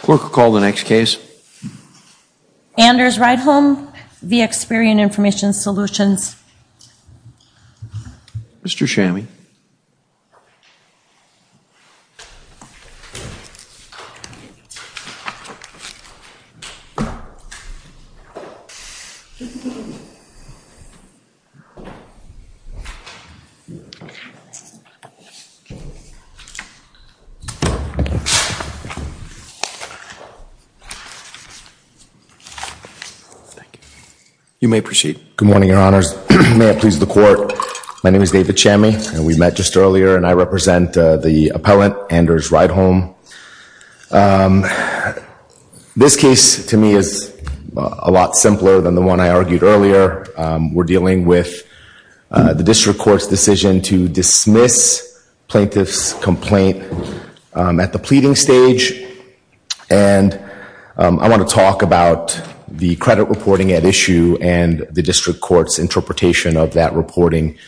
Clerk will call the next case. Anders Rydholm v. Experian Information Solutions. Mr. Chami. Good morning, Your Honors. May it please the Court, my name is David Chami and we met just earlier and I represent the appellant, Anders Rydholm. This case, to me, is a lot simpler than the one I argued earlier. We're dealing with the District Court's decision to dismiss plaintiff's complaint at the pleading stage and I want to talk about the credit reporting at issue and the District Court's interpretation of that reporting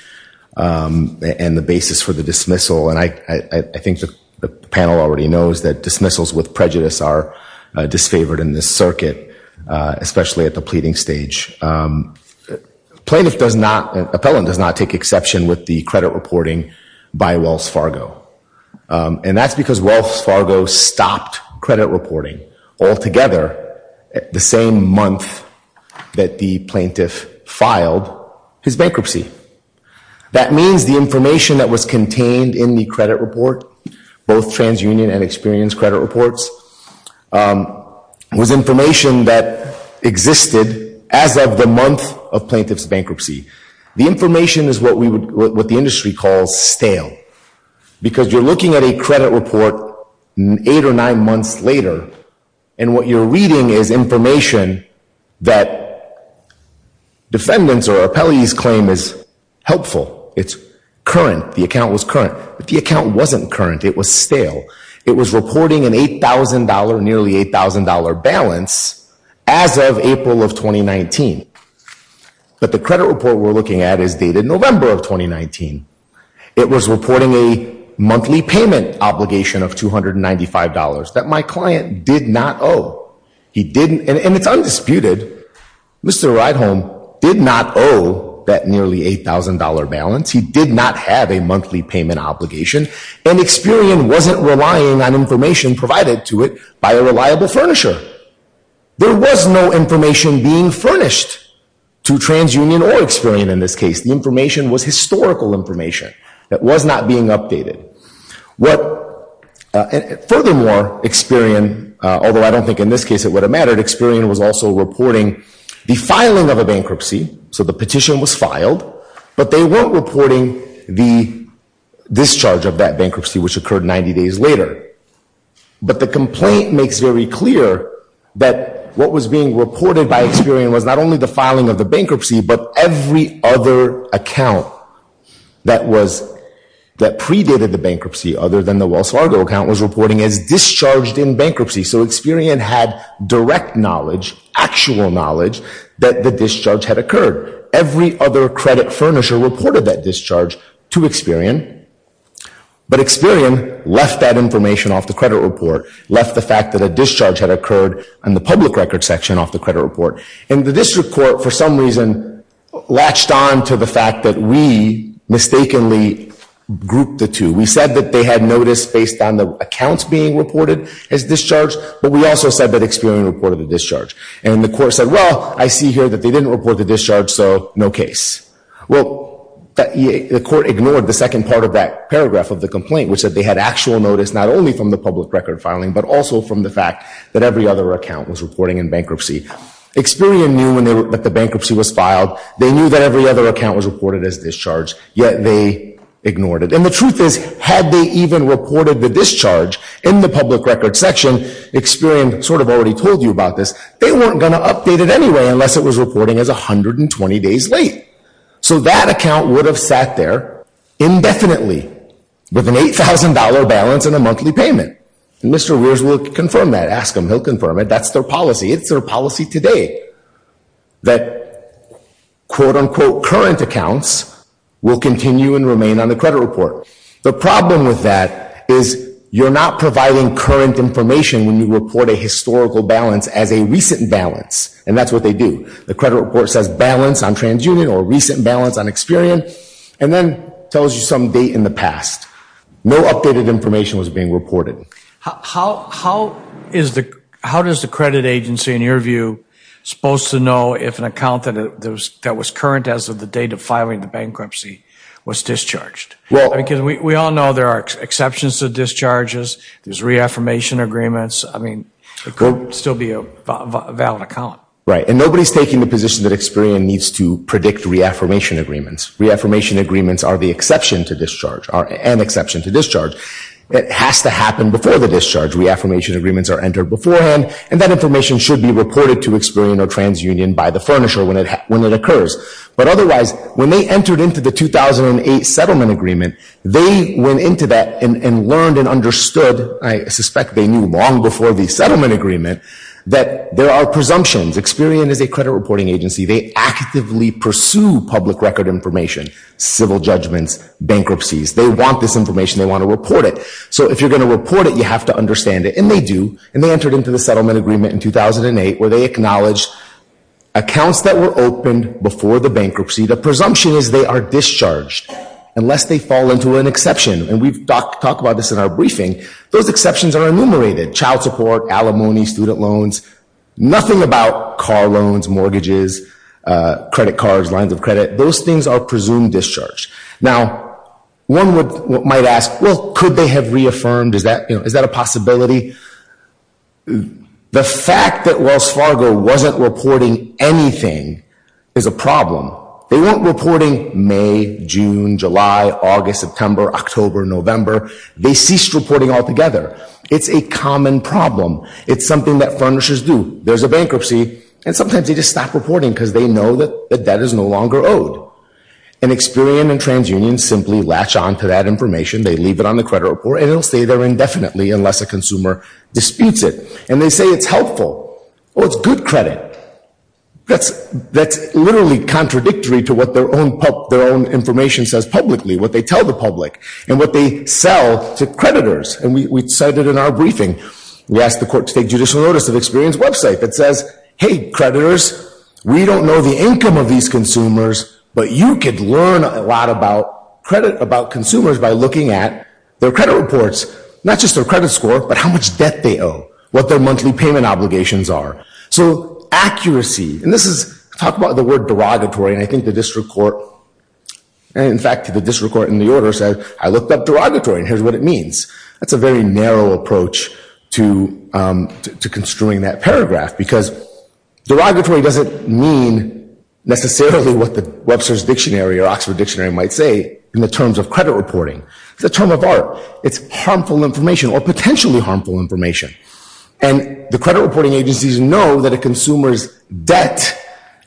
and the basis for the dismissal and I think the panel already knows that dismissals with prejudice are disfavored in this circuit, especially at the pleading stage. Plaintiff does not, appellant does not take exception with the credit reporting by Wells Fargo and that's because Wells Fargo stopped credit reporting altogether the same month that the plaintiff filed his bankruptcy. That means the information that was contained in the credit report, both TransUnion and Experian's credit reports, was information that existed as of the month of plaintiff's information is what we would, what the industry calls stale because you're looking at a credit report eight or nine months later and what you're reading is information that defendants or appellees claim is helpful, it's current, the account was current, but the account wasn't current, it was stale. It was reporting an $8,000, nearly $8,000 balance as of April of 2019, but the credit report we're looking at is dated November of 2019. It was reporting a monthly payment obligation of $295 that my client did not owe. He didn't, and it's undisputed, Mr. Ridehome did not owe that nearly $8,000 balance. He did not have a monthly payment obligation and Experian wasn't relying on information provided to it by a reliable furnisher. There was no information being furnished to TransUnion or Experian in this case. The information was historical information that was not being updated. What, furthermore, Experian, although I don't think in this case it would have mattered, Experian was also reporting the filing of a bankruptcy, so the petition was filed, but they weren't reporting the discharge of that bankruptcy which occurred 90 days later, but the complaint makes very clear that what was being reported by Experian was not only the filing of the bankruptcy, but every other account that predated the bankruptcy other than the Wells Fargo account was reporting as discharged in bankruptcy, so Experian had direct knowledge, actual knowledge, that the But Experian left that information off the credit report, left the fact that a discharge had occurred in the public record section off the credit report, and the district court, for some reason, latched on to the fact that we mistakenly grouped the two. We said that they had noticed based on the accounts being reported as discharged, but we also said that Experian reported the discharge, and the court said, well, I see here that they didn't report the discharge, so no case. Well, the court ignored the second part of that paragraph of the complaint, which said they had actual notice not only from the public record filing, but also from the fact that every other account was reporting in bankruptcy. Experian knew that the bankruptcy was filed, they knew that every other account was reported as discharged, yet they ignored it, and the truth is, had they even reported the discharge in the public record section, Experian sort of already told you about They weren't going to update it anyway unless it was reporting as 120 days late, so that account would have sat there indefinitely with an $8,000 balance and a monthly payment, and Mr. Rears will confirm that, ask him, he'll confirm it, that's their policy, it's their policy today, that current accounts will continue and remain on the credit report. The problem with that is you're not balance, and that's what they do. The credit report says balance on TransUnion or recent balance on Experian, and then tells you some date in the past. No updated information was being reported. How does the credit agency, in your view, supposed to know if an account that was current as of the date of filing the bankruptcy was discharged? Because we all know there are exceptions to discharges, there's reaffirmation agreements, I mean, it could still be a valid account. Right, and nobody's taking the position that Experian needs to predict reaffirmation agreements. Reaffirmation agreements are the exception to discharge, are an exception to discharge. It has to happen before the discharge. Reaffirmation agreements are entered beforehand, and that information should be reported to Experian or TransUnion by the furnisher when it occurs. But otherwise, when they entered into the 2008 settlement agreement, they went into that and learned and understood, I suspect they knew long before the settlement agreement, that there are presumptions. Experian is a credit reporting agency. They actively pursue public record information, civil judgments, bankruptcies. They want this information, they want to report it. So if you're going to report it, you have to understand it, and they do, and they entered into the agreement before the bankruptcy. The presumption is they are discharged unless they fall into an exception, and we've talked about this in our briefing. Those exceptions are enumerated, child support, alimony, student loans, nothing about car loans, mortgages, credit cards, lines of credit. Those things are presumed discharge. Now, one might ask, well, could they have reaffirmed? Is that, a possibility? The fact that Wells Fargo wasn't reporting anything is a problem. They weren't reporting May, June, July, August, September, October, November. They ceased reporting altogether. It's a common problem. It's something that furnishers do. There's a bankruptcy, and sometimes they just stop reporting because they know that the debt is no longer owed, and Experian and TransUnion simply latch on to that information. They leave it on the credit report, and it'll stay there indefinitely unless a consumer disputes it, and they say it's helpful. Well, it's good credit. That's, that's literally contradictory to what their own, their own information says publicly, what they tell the public, and what they sell to creditors, and we cited in our briefing. We asked the court to take judicial notice of Experian's website that says, hey creditors, we don't know the income of these consumers, but you could learn a lot about credit, about consumers by looking at their credit reports, not just their credit score, but how much debt they owe, what their monthly payment obligations are. So accuracy, and this is, talk about the word derogatory, and I think the district court, and in fact the district court in the order said, I looked up derogatory, and here's what it means. That's a very narrow approach to, to construing that paragraph, because derogatory doesn't mean necessarily what the Webster's Dictionary or Oxford Dictionary might say in the terms of information, or potentially harmful information, and the credit reporting agencies know that a consumer's debt,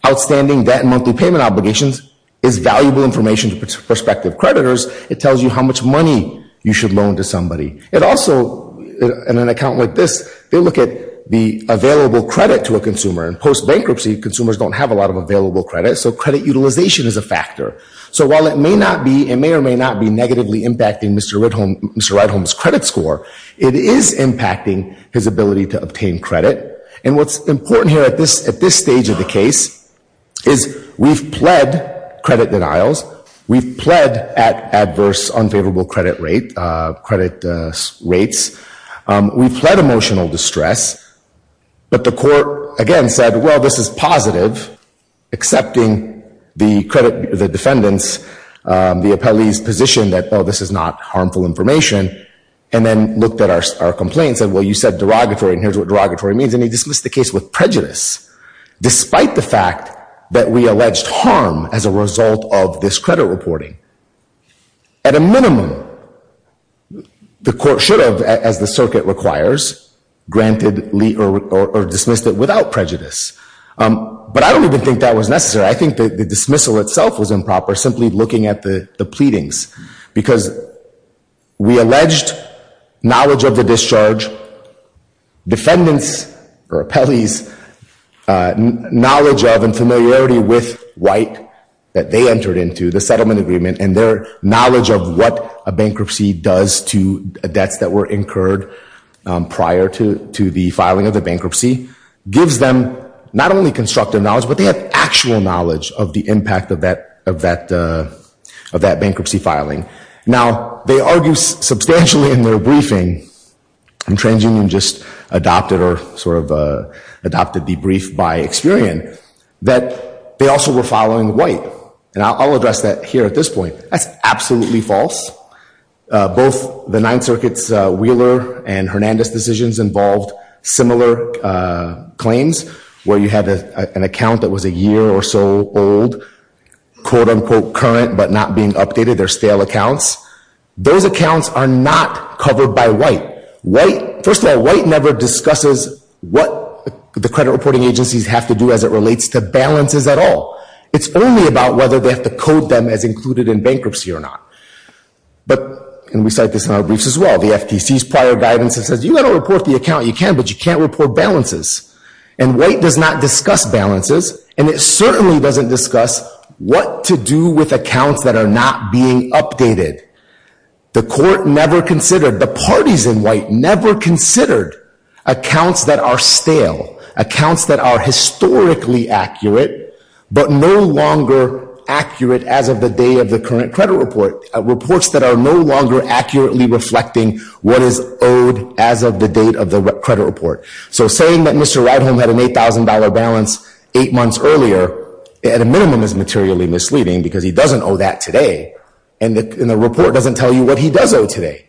outstanding debt and monthly payment obligations, is valuable information to prospective creditors. It tells you how much money you should loan to somebody. It also, in an account like this, they look at the available credit to a consumer, and post-bankruptcy consumers don't have a lot of available credit, so credit utilization is a factor. So while it may not be, negatively impacting Mr. Ridholm, Mr. Ridholm's credit score, it is impacting his ability to obtain credit, and what's important here at this, at this stage of the case, is we've pled credit denials, we've pled at adverse unfavorable credit rate, credit rates, we've pled emotional distress, but the court again said, well this is positive, accepting the credit, the defendants, the appellee's position that, oh this is not harmful information, and then looked at our complaint and said, well you said derogatory, and here's what derogatory means, and he dismissed the case with prejudice, despite the fact that we alleged harm as a result of this credit reporting. At a minimum, the court should have, as the circuit requires, granted or dismissed it without prejudice, but I don't even think that was necessary. I think the dismissal itself was looking at the, the pleadings, because we alleged knowledge of the discharge, defendants, or appellees, knowledge of and familiarity with white that they entered into the settlement agreement, and their knowledge of what a bankruptcy does to debts that were incurred prior to, to the filing of the bankruptcy, gives them not only constructive knowledge, but they have actual knowledge of the of that bankruptcy filing. Now they argue substantially in their briefing, and TransUnion just adopted or sort of adopted the brief by Experian, that they also were following white, and I'll address that here at this point. That's absolutely false. Both the Ninth Circuit's Wheeler and Hernandez decisions involved similar claims, where you had an account that was a year or so old, quote-unquote current, but not being updated. They're stale accounts. Those accounts are not covered by white. White, first of all, white never discusses what the credit reporting agencies have to do as it relates to balances at all. It's only about whether they have to code them as included in bankruptcy or not, but, and we cite this in our briefs as well, the FTC's prior guidance that says you got to report the account you can, but you can't report balances, and white does not discuss what to do with accounts that are not being updated. The court never considered, the parties in white never considered accounts that are stale, accounts that are historically accurate, but no longer accurate as of the day of the current credit report, reports that are no longer accurately reflecting what is owed as of the date of the credit report. So saying that Mr. is materially misleading because he doesn't owe that today, and the report doesn't tell you what he does owe today.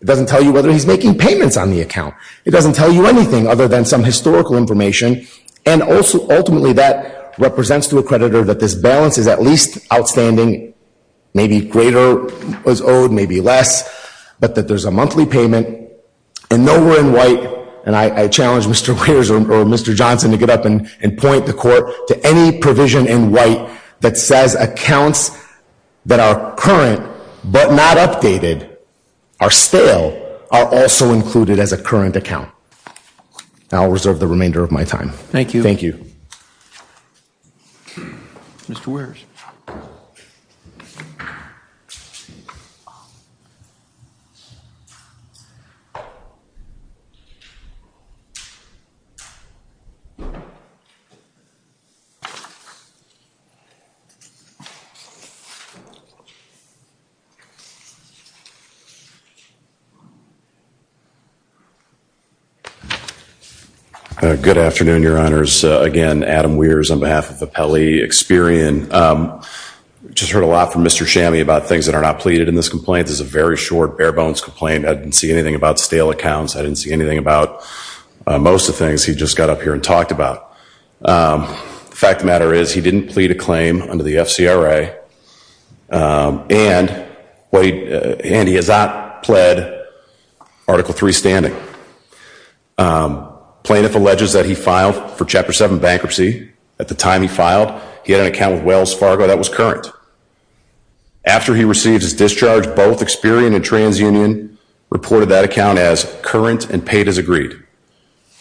It doesn't tell you whether he's making payments on the account. It doesn't tell you anything other than some historical information, and also, ultimately, that represents to a creditor that this balance is at least outstanding, maybe greater was owed, maybe less, but that there's a monthly payment, and nowhere in white, and I challenge Mr. Wears or Mr. Johnson to get up and point the court to any provision in white that says accounts that are current, but not updated, are stale, are also included as a current account. I'll reserve the remainder of my time. Thank you. Thank you. Mr. Wears. Good afternoon, Your Honors. Again, Adam Wears on behalf of the Pelley Experian. Just heard a lot from Mr. Chammy about things that are not pleaded in this complaint. This is a very short, bare-bones complaint. I didn't see anything about stale accounts. I didn't see about most of the things he just got up here and talked about. The fact of the matter is, he didn't plead a claim under the FCRA, and he has not pled Article III standing. Plaintiff alleges that he filed for Chapter 7 bankruptcy. At the time he filed, he had an account with Wells Fargo that was current. After he received his discharge, both Experian and agreed.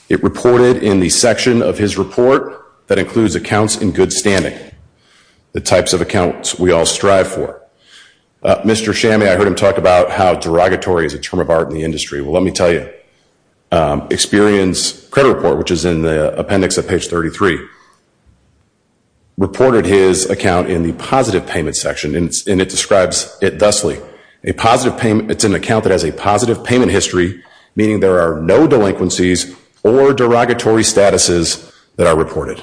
It reported in the section of his report that includes accounts in good standing, the types of accounts we all strive for. Mr. Chammy, I heard him talk about how derogatory is a term of art in the industry. Well, let me tell you. Experian's credit report, which is in the appendix at page 33, reported his account in the positive payment section, and it describes it thusly. It's an account that has a positive payment history, meaning there are no delinquencies or derogatory statuses that are reported.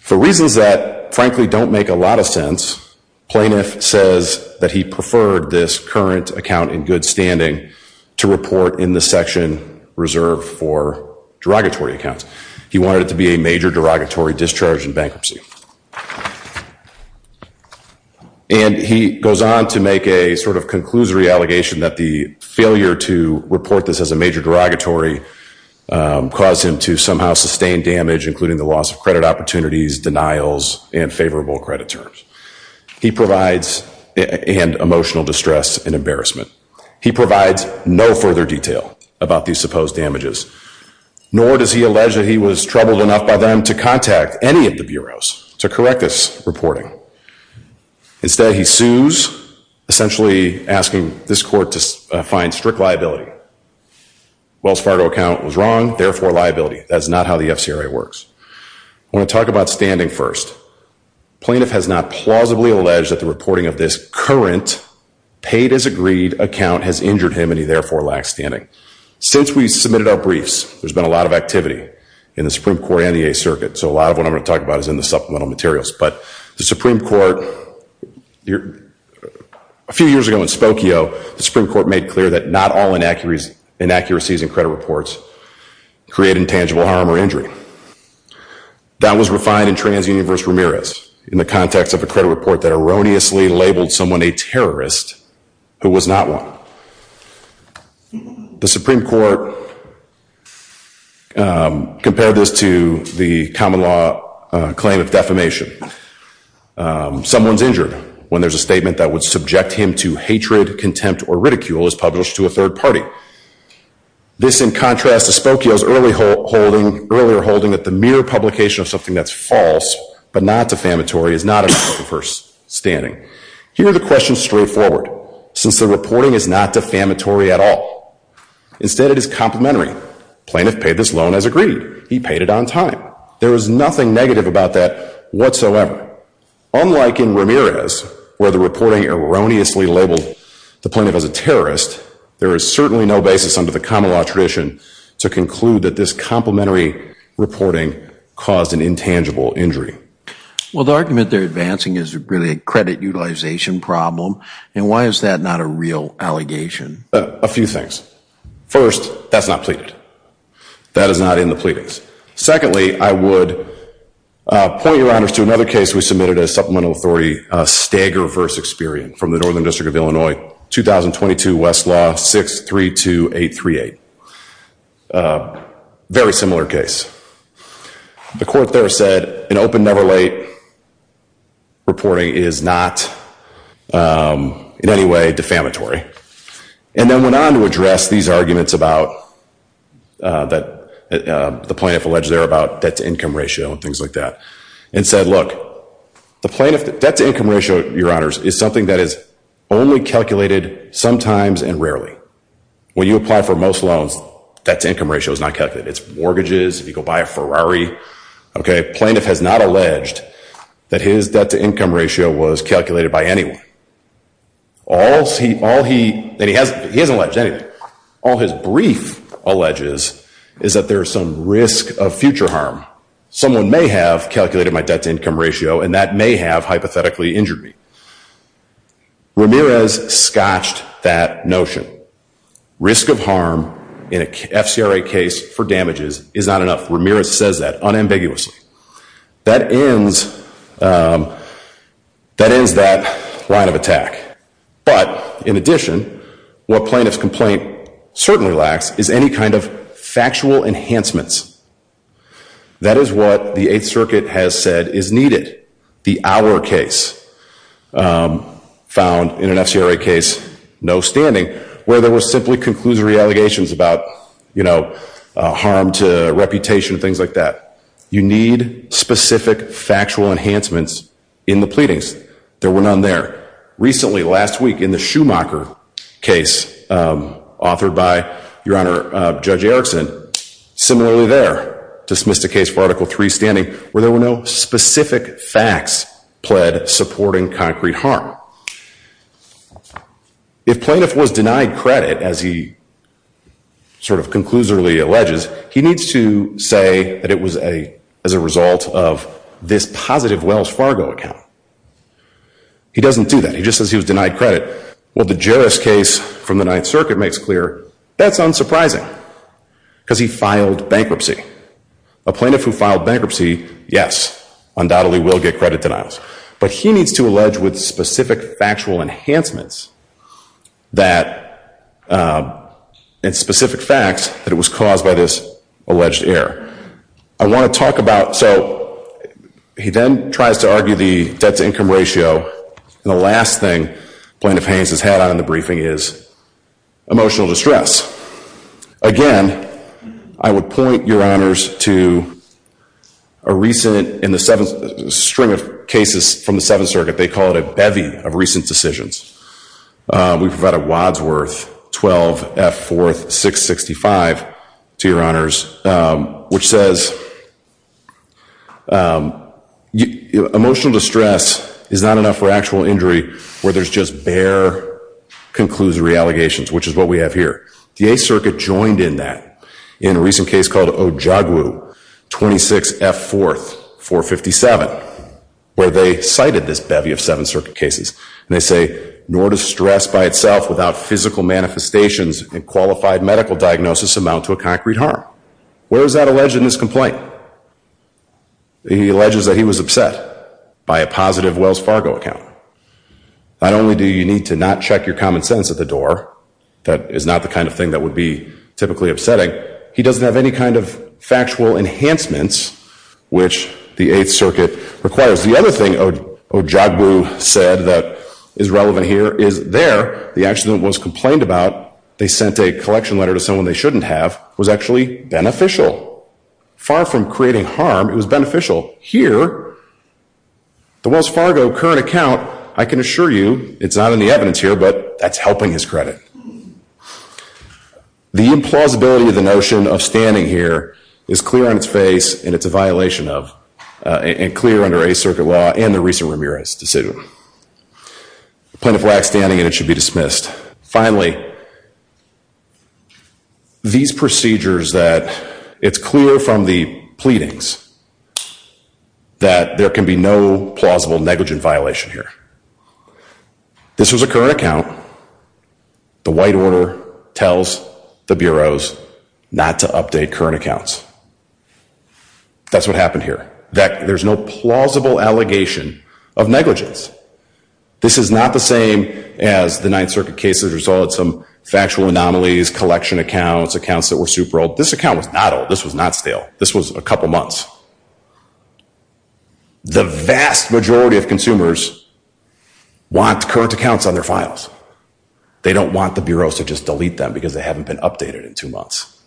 For reasons that frankly don't make a lot of sense, plaintiff says that he preferred this current account in good standing to report in the section reserved for derogatory accounts. He wanted it to be a major derogatory discharge in bankruptcy. And he goes on to make a sort of conclusory allegation that the failure to report this as a major derogatory caused him to somehow sustain damage, including the loss of credit opportunities, denials, and favorable credit terms. He provides and emotional distress and embarrassment. He provides no further detail about these supposed damages, nor does he allege that he was troubled enough by them to contact any of the bureaus to correct this reporting. Instead, he sues, essentially asking this court to find strict liability. Wells Fargo account was wrong, therefore liability. That's not how the FCRA works. I want to talk about standing first. Plaintiff has not plausibly alleged that the reporting of this current paid-as-agreed account has injured him and he therefore lacks standing. Since we submitted our briefs, there's been a lot of activity in the Supreme Court and the Eighth Circuit, so a lot of what I'm going to talk about is in the supplemental materials. But the Supreme Court, a few years ago in Spokio, the Supreme Court made clear that not all inaccuracies in credit reports create intangible harm or injury. That was refined in TransUnion v. Ramirez in the context of a credit report that erroneously labeled someone a terrorist who was not one. The Supreme Court compared this to the common law claim of defamation. Someone's injured when there's a statement that would subject him to hatred, contempt, or ridicule is published to a third party. This in contrast to Spokio's earlier holding that the mere publication of something that's false but not defamatory is not enough for standing. Here the question is straightforward. Since the reporting is not defamatory at all, instead it is complementary. Plaintiff paid this loan as agreed. He paid it on time. There is nothing negative about that whatsoever. Unlike in Ramirez where the reporting erroneously labeled the plaintiff as a terrorist, there is certainly no basis under the common law tradition to conclude that this complementary reporting caused an intangible injury. Well the argument they're advancing is really a credit utilization problem and why is that not a real allegation? A few things. First, that's not pleaded. That is not in the pleadings. Secondly, I would point your honors to another case we submitted as supplemental authority, Stagger v. Experian from the Northern District of Illinois, 2022 Westlaw 632838. Very similar case. The court there said an open never late reporting is not in any way defamatory. And then went on to address these arguments about the plaintiff alleged there about debt to income ratio and things like that. And said look, the debt to income ratio, your honors, is something that is only calculated sometimes and rarely. When you apply for most loans, debt to income ratio is not calculated. It's mortgages, if you go buy a Ferrari. Plaintiff has not alleged that his debt to income ratio was calculated by anyone. He hasn't alleged anything. All his brief alleges is that there is some risk of future harm. Someone may have calculated my debt to income ratio and that may have hypothetically injured me. Ramirez scotched that notion. Risk of harm in an FCRA case for damages is not enough. Ramirez says that unambiguously. That ends that line of attack. But in addition, what plaintiff's complaint certainly lacks is any kind of factual enhancements. That is what the Eighth Circuit has said is needed. The Our case found in an FCRA case, no standing, where there were simply conclusory allegations about harm to reputation and things like that. You need specific factual enhancements in the pleadings. There were none there. Recently, last week, in the Schumacher case authored by your honor Judge Erickson, similarly there, dismissed a case for Article III standing where there were no specific facts pled supporting concrete harm. If plaintiff was denied credit, as he sort of conclusively alleges, he needs to say that it was as a result of this positive Wells Fargo account. He doesn't do that. He just says he was denied credit. Well, the Jarrus case from the Ninth Circuit makes clear that's unsurprising because he filed bankruptcy. A plaintiff who filed bankruptcy, yes, undoubtedly will get credit denials. But he needs to allege with specific factual enhancements that in specific facts that it was caused by this alleged error. I want to talk about, so he then tries to argue the debt to income ratio. And the last thing plaintiff Haynes has had on the briefing is emotional distress. Again, I would point your honors to a recent in the string of cases from the Seventh Circuit, they call it a bevy of recent decisions. We've got a Wadsworth 12 F 4th 665, to your honors, which says emotional distress is not enough for actual injury where there's just bare conclusive reallegations, which is what we have here. The Eighth Circuit joined in that in a recent case called Ojogwu 26 F 4th 457, where they cited this bevy of Seventh Circuit cases. And they say, nor does stress by itself without physical manifestations and qualified medical diagnosis amount to a concrete harm. Where is that alleged in this complaint? He alleges that he was upset by a positive Wells Fargo account. Not only do you need to not check your common sense at the door, that is not the kind of thing that would be typically upsetting, he doesn't have any kind of factual enhancements, which the Eighth Circuit requires. The other thing Ojogwu said that is relevant here is there, the accident was complained about, they sent a collection letter to someone they shouldn't have, was actually beneficial. Far from creating harm, it was beneficial. Here, the Wells Fargo current account, I can assure you it's not in the evidence here, but that's helping his credit. The implausibility of the notion of standing here is clear on its face and it's a violation of, and clear under Eighth Circuit law and the recent Ramirez decision. Plaintiff lacks standing and it should be dismissed. Finally, these procedures that it's clear from the pleadings that there can be no plausible negligent violation here. This was a current account. The white order tells the bureaus not to update current accounts. That's what happened here. There's no plausible allegation of negligence. This is not the same as the Ninth Circuit case that resulted in some factual anomalies, collection accounts, accounts that were super old. This account was not old. This was not stale. This was a couple months. The vast majority of consumers want current accounts on their files. They don't want the bureaus to just delete them because they haven't been updated in two months.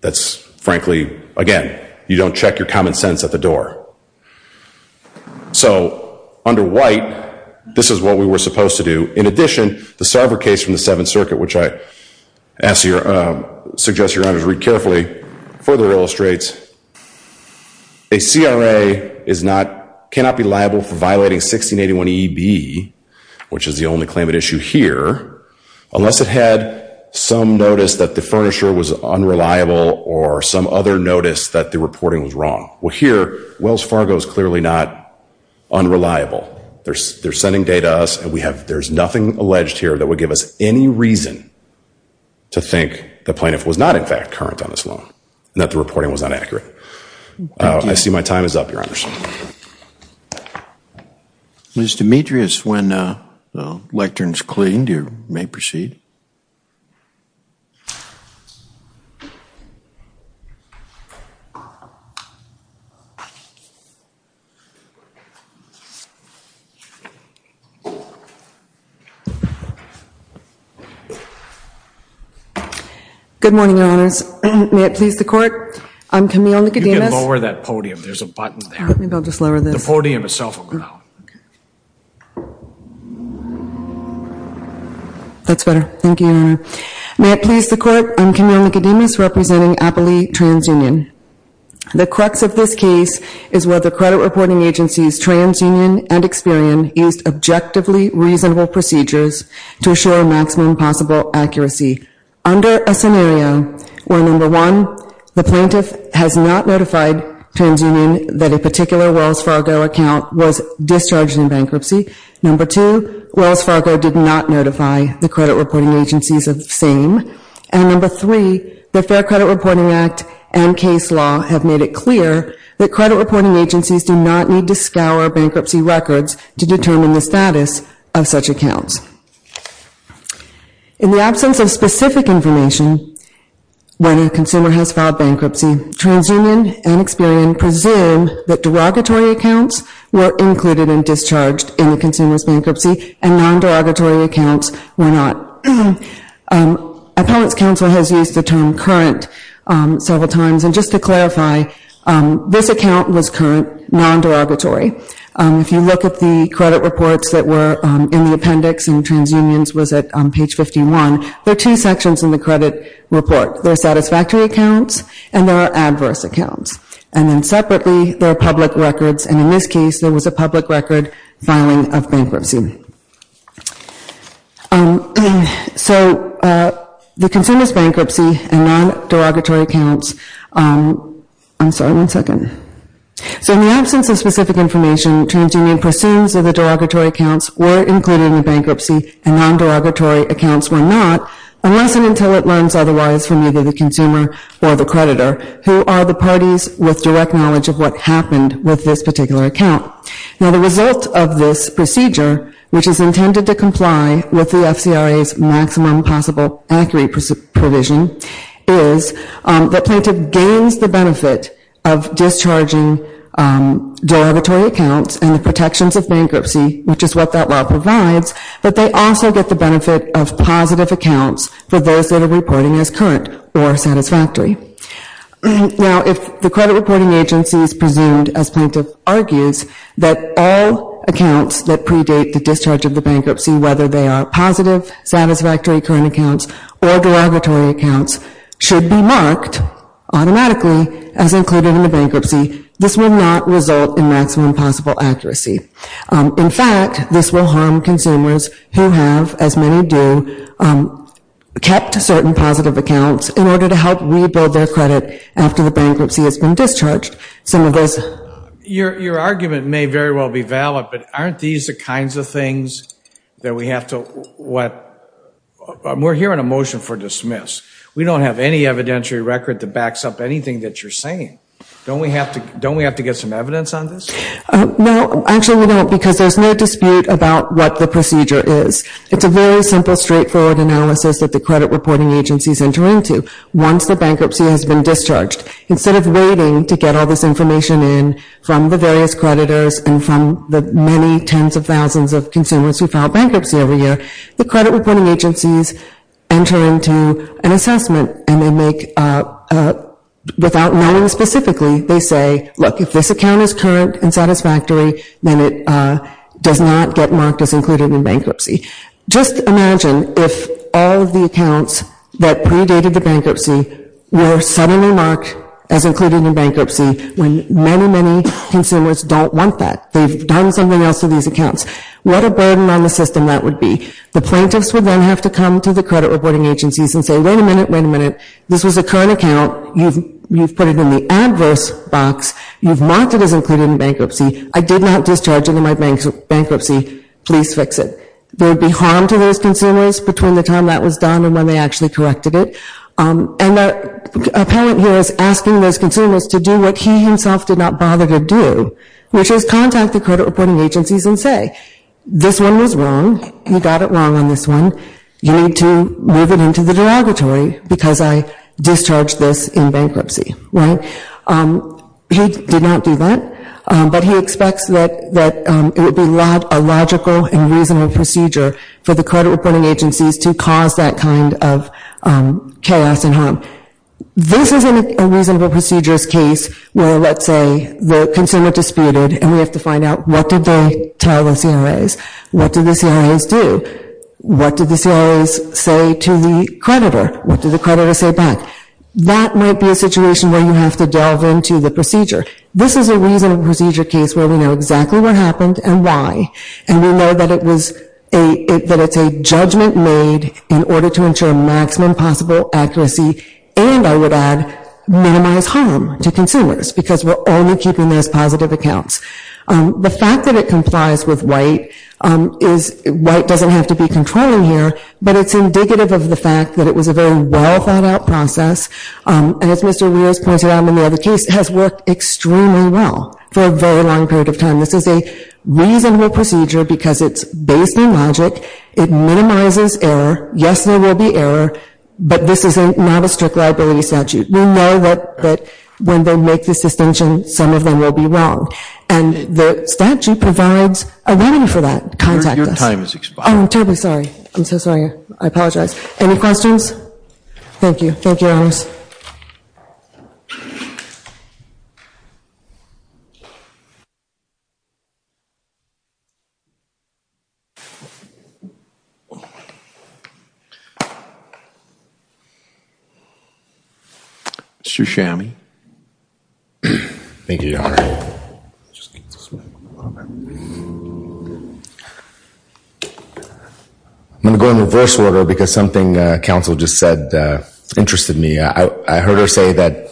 That's frankly, again, you don't check your common sense at the door. So under white, this is what we were supposed to do. In addition, the Sarver case from the Seventh Circuit, which I suggest your honors read carefully, further illustrates that a CRA cannot be liable for violating 1681EB, which is the only claim at issue here, unless it had some notice that the furniture was unreliable or some other notice that the reporting was wrong. Well, here, Wells Fargo is clearly not unreliable. They're sending data to us and there's nothing alleged here that would give us any reason to think the plaintiff was not in fact current on this loan and that the reporting was inaccurate. I see my time is up, your honors. Ms. Demetrius, when the lectern is cleaned, you may proceed. Good morning, your honors. May it please the court, I'm Camille Nicodemus. You can lower that podium. There's a button there. Maybe I'll just lower this. The podium itself will go down. Okay. That's better. Thank you, your honor. May it please the court, I'm Camille Nicodemus representing Appley TransUnion. The crux of this case is whether credit reporting agencies TransUnion and Experian used objectively reasonable procedures to show maximum possible accuracy. Under a scenario where number one, the plaintiff has not notified TransUnion that a particular Wells Fargo account was discharged in bankruptcy, number two, Wells Fargo did not notify the credit reporting agencies of the same, and number three, the Fair Credit Reporting Act and case law have made it clear that credit reporting agencies do not need to scour bankruptcy records to determine the status of such accounts. In the absence of specific information, when a consumer has were included and discharged in the consumer's bankruptcy and non-derogatory accounts were not. Appellate's counsel has used the term current several times, and just to clarify, this account was current, non-derogatory. If you look at the credit reports that were in the appendix and TransUnion's was at page 51, there are two sections in the credit report. There are satisfactory accounts and there are adverse accounts. And then separately, there are public records, and in this case, there was a public record filing of bankruptcy. So the consumer's bankruptcy and non-derogatory accounts, I'm sorry, one second. So in the absence of specific information, TransUnion presumes that the derogatory accounts were included in the bankruptcy and non-derogatory accounts were not, unless and until it learns otherwise from either the consumer or the creditor, who are the parties with direct knowledge of what happened with this particular account. Now the result of this procedure, which is intended to comply with the FCRA's maximum possible accurate provision, is that plaintiff gains the benefit of discharging derogatory accounts and the protections of bankruptcy, which is what that law provides, but they also get the benefit of positive accounts for those that are reporting as current or satisfactory. Now if the credit reporting agency is presumed, as plaintiff argues, that all accounts that predate the discharge of the bankruptcy, whether they are positive, satisfactory current accounts or derogatory accounts, should be marked automatically as included in the bankruptcy, this will not result in maximum possible accuracy. In fact, this will harm consumers who have, as many do, kept certain positive accounts in order to help rebuild their credit after the bankruptcy has been discharged. Some of those... Your argument may very well be valid, but aren't these the kinds of things that we have to, what, we're here on a motion for dismiss. We don't have any evidentiary record that backs up anything that you're saying. Don't we have to, don't we have to get some evidence on this? No, actually we don't because there's no dispute about what the procedure is. It's a very simple, straightforward analysis that the credit reporting agencies enter into once the bankruptcy has been discharged. Instead of waiting to get all this information in from the various creditors and from the many tens of thousands of consumers who file bankruptcy every year, the credit reporting agencies enter into an assessment and they make, without naming specifically, they say, look, if this account is current and satisfactory, then it does not get marked as included in bankruptcy. Just imagine if all of the accounts that predated the bankruptcy were suddenly marked as included in bankruptcy when many, many consumers don't want that. They've done something else to these accounts. What a burden on the system that would be. The plaintiffs would then have to come to the credit reporting agencies and say, wait a minute, wait a minute. This was a current account. You've put it in the adverse box. You've marked it as included in bankruptcy. I did not discharge it in my bankruptcy. Please fix it. There would be harm to those consumers between the time that was done and when they actually corrected it. And a parent here is asking those consumers to do what he himself did not bother to do, which is contact the credit reporting agencies and say, this one was wrong. You got it wrong on this one. You need to move it into the derogatory because I discharged this in bankruptcy. He did not do that, but he expects that it would be a logical and reasonable procedure for the credit reporting agencies to cause that kind of chaos and harm. This is a reasonable procedures case where, let's say, the consumer disputed and we have to find out what did they tell the CRAs? What did the CRAs do? What did the CRAs say to the creditor? What did the CRAs say? This might be a situation where you have to delve into the procedure. This is a reasonable procedure case where we know exactly what happened and why. And we know that it was, that it's a judgment made in order to ensure maximum possible accuracy and I would add, minimize harm to consumers because we're only keeping those positive accounts. The fact that it complies with white is, white doesn't have to be controlling here, but it's indicative of the fact that it was a well thought out process. And as Mr. Rios pointed out in the other case, it has worked extremely well for a very long period of time. This is a reasonable procedure because it's based in logic. It minimizes error. Yes, there will be error, but this is not a strict liability statute. We know that when they make this distinction, some of them will be wrong. And the statute provides a remedy for that. Contact us. Your time has expired. Oh, I'm terribly sorry. I'm so sorry. I apologize. Any questions? Thank you. Thank you, Your Honors. Mr. Chami. Thank you, Your Honor. I'm going to go in reverse order because something counsel just said interested me. I heard her say that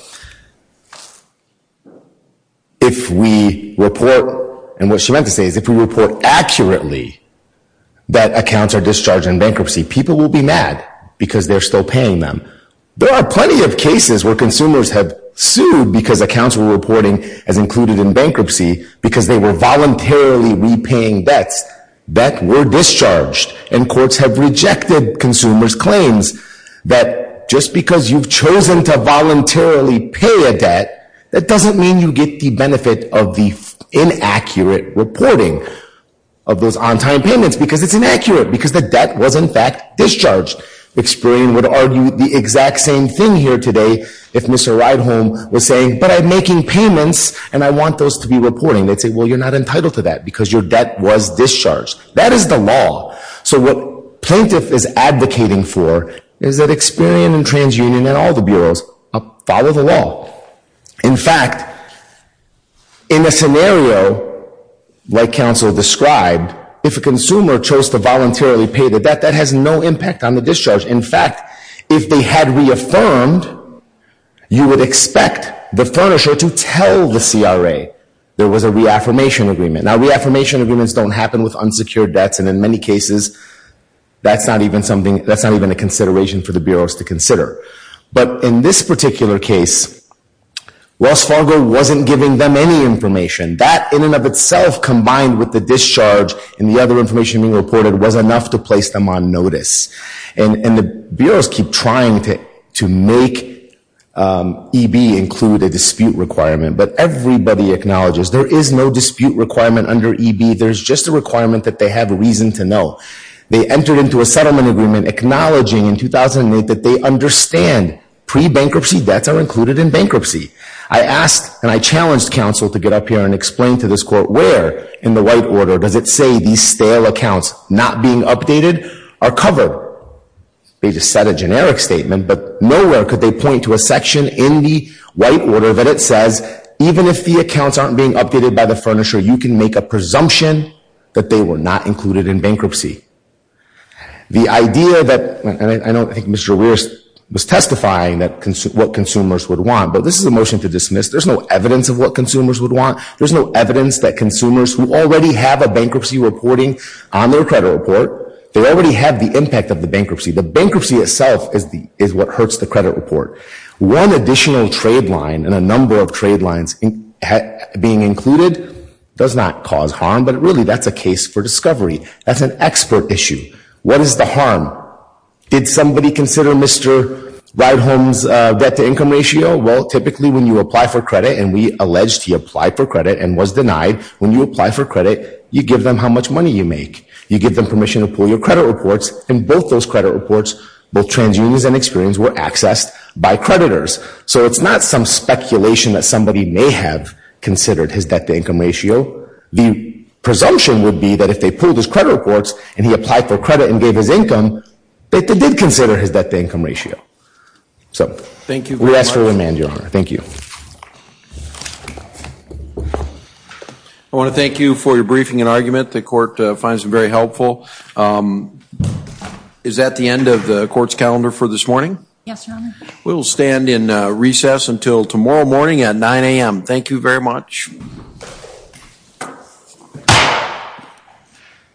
if we report, and what she meant to say is if we report accurately that accounts are discharged in bankruptcy, people will be mad because they're still paying them. There are plenty of cases where consumers have sued because accounts were reporting as included in bankruptcy because they were discharged. And courts have rejected consumers' claims that just because you've chosen to voluntarily pay a debt, that doesn't mean you get the benefit of the inaccurate reporting of those on-time payments because it's inaccurate because the debt was, in fact, discharged. Experian would argue the exact same thing here today if Mr. Ridehom was saying, but I'm making payments and I want those to be reporting. They'd say, well, you're not entitled to that because your debt was discharged. That is the law. So what plaintiff is advocating for is that Experian and TransUnion and all the bureaus follow the law. In fact, in a scenario like counsel described, if a consumer chose to voluntarily pay the debt, that has no impact on the discharge. In fact, if they had reaffirmed, you would expect the furnisher to tell the CRA there was a reaffirmation agreement. Now, reaffirmation agreements don't happen with unsecured debts, and in many cases, that's not even a consideration for the bureaus to consider. But in this particular case, Wells Fargo wasn't giving them any information. That in and of itself combined with the discharge and the other information being reported was enough to place them on notice. And the bureaus keep trying to make EB include a dispute requirement, but everybody acknowledges there is no dispute requirement under EB. There's just a requirement that they have a reason to know. They entered into a settlement agreement acknowledging in 2008 that they understand pre-bankruptcy debts are included in bankruptcy. I asked and I challenged counsel to get up here and explain to this court where in the white order does it say these stale accounts not being updated are covered. They just said a generic statement, but nowhere could they point to a you can make a presumption that they were not included in bankruptcy. The idea that, and I don't think Mr. Weir was testifying what consumers would want, but this is a motion to dismiss. There's no evidence of what consumers would want. There's no evidence that consumers who already have a bankruptcy reporting on their credit report, they already have the impact of the bankruptcy. The bankruptcy itself is what hurts the credit report. One additional trade line and a number of trade lines being included does not cause harm, but really that's a case for discovery. That's an expert issue. What is the harm? Did somebody consider Mr. Ride Home's debt to income ratio? Well, typically when you apply for credit and we alleged he applied for credit and was denied, when you apply for credit, you give them how much money you make. You give them permission to pull your credit reports and both those credit reports, both transunions and experience, were accessed by creditors. So it's not some speculation that somebody may have considered his debt to income ratio. The presumption would be that if they pulled his credit reports and he applied for credit and gave his income, that they did consider his debt to income ratio. So we ask for your remand, Your Honor. Thank you. I want to thank you for your briefing and argument. The court finds it very helpful. Is that the end of the court's calendar for this morning? Yes, Your Honor. We'll stand in recess until tomorrow morning at 9 a.m. Thank you very much.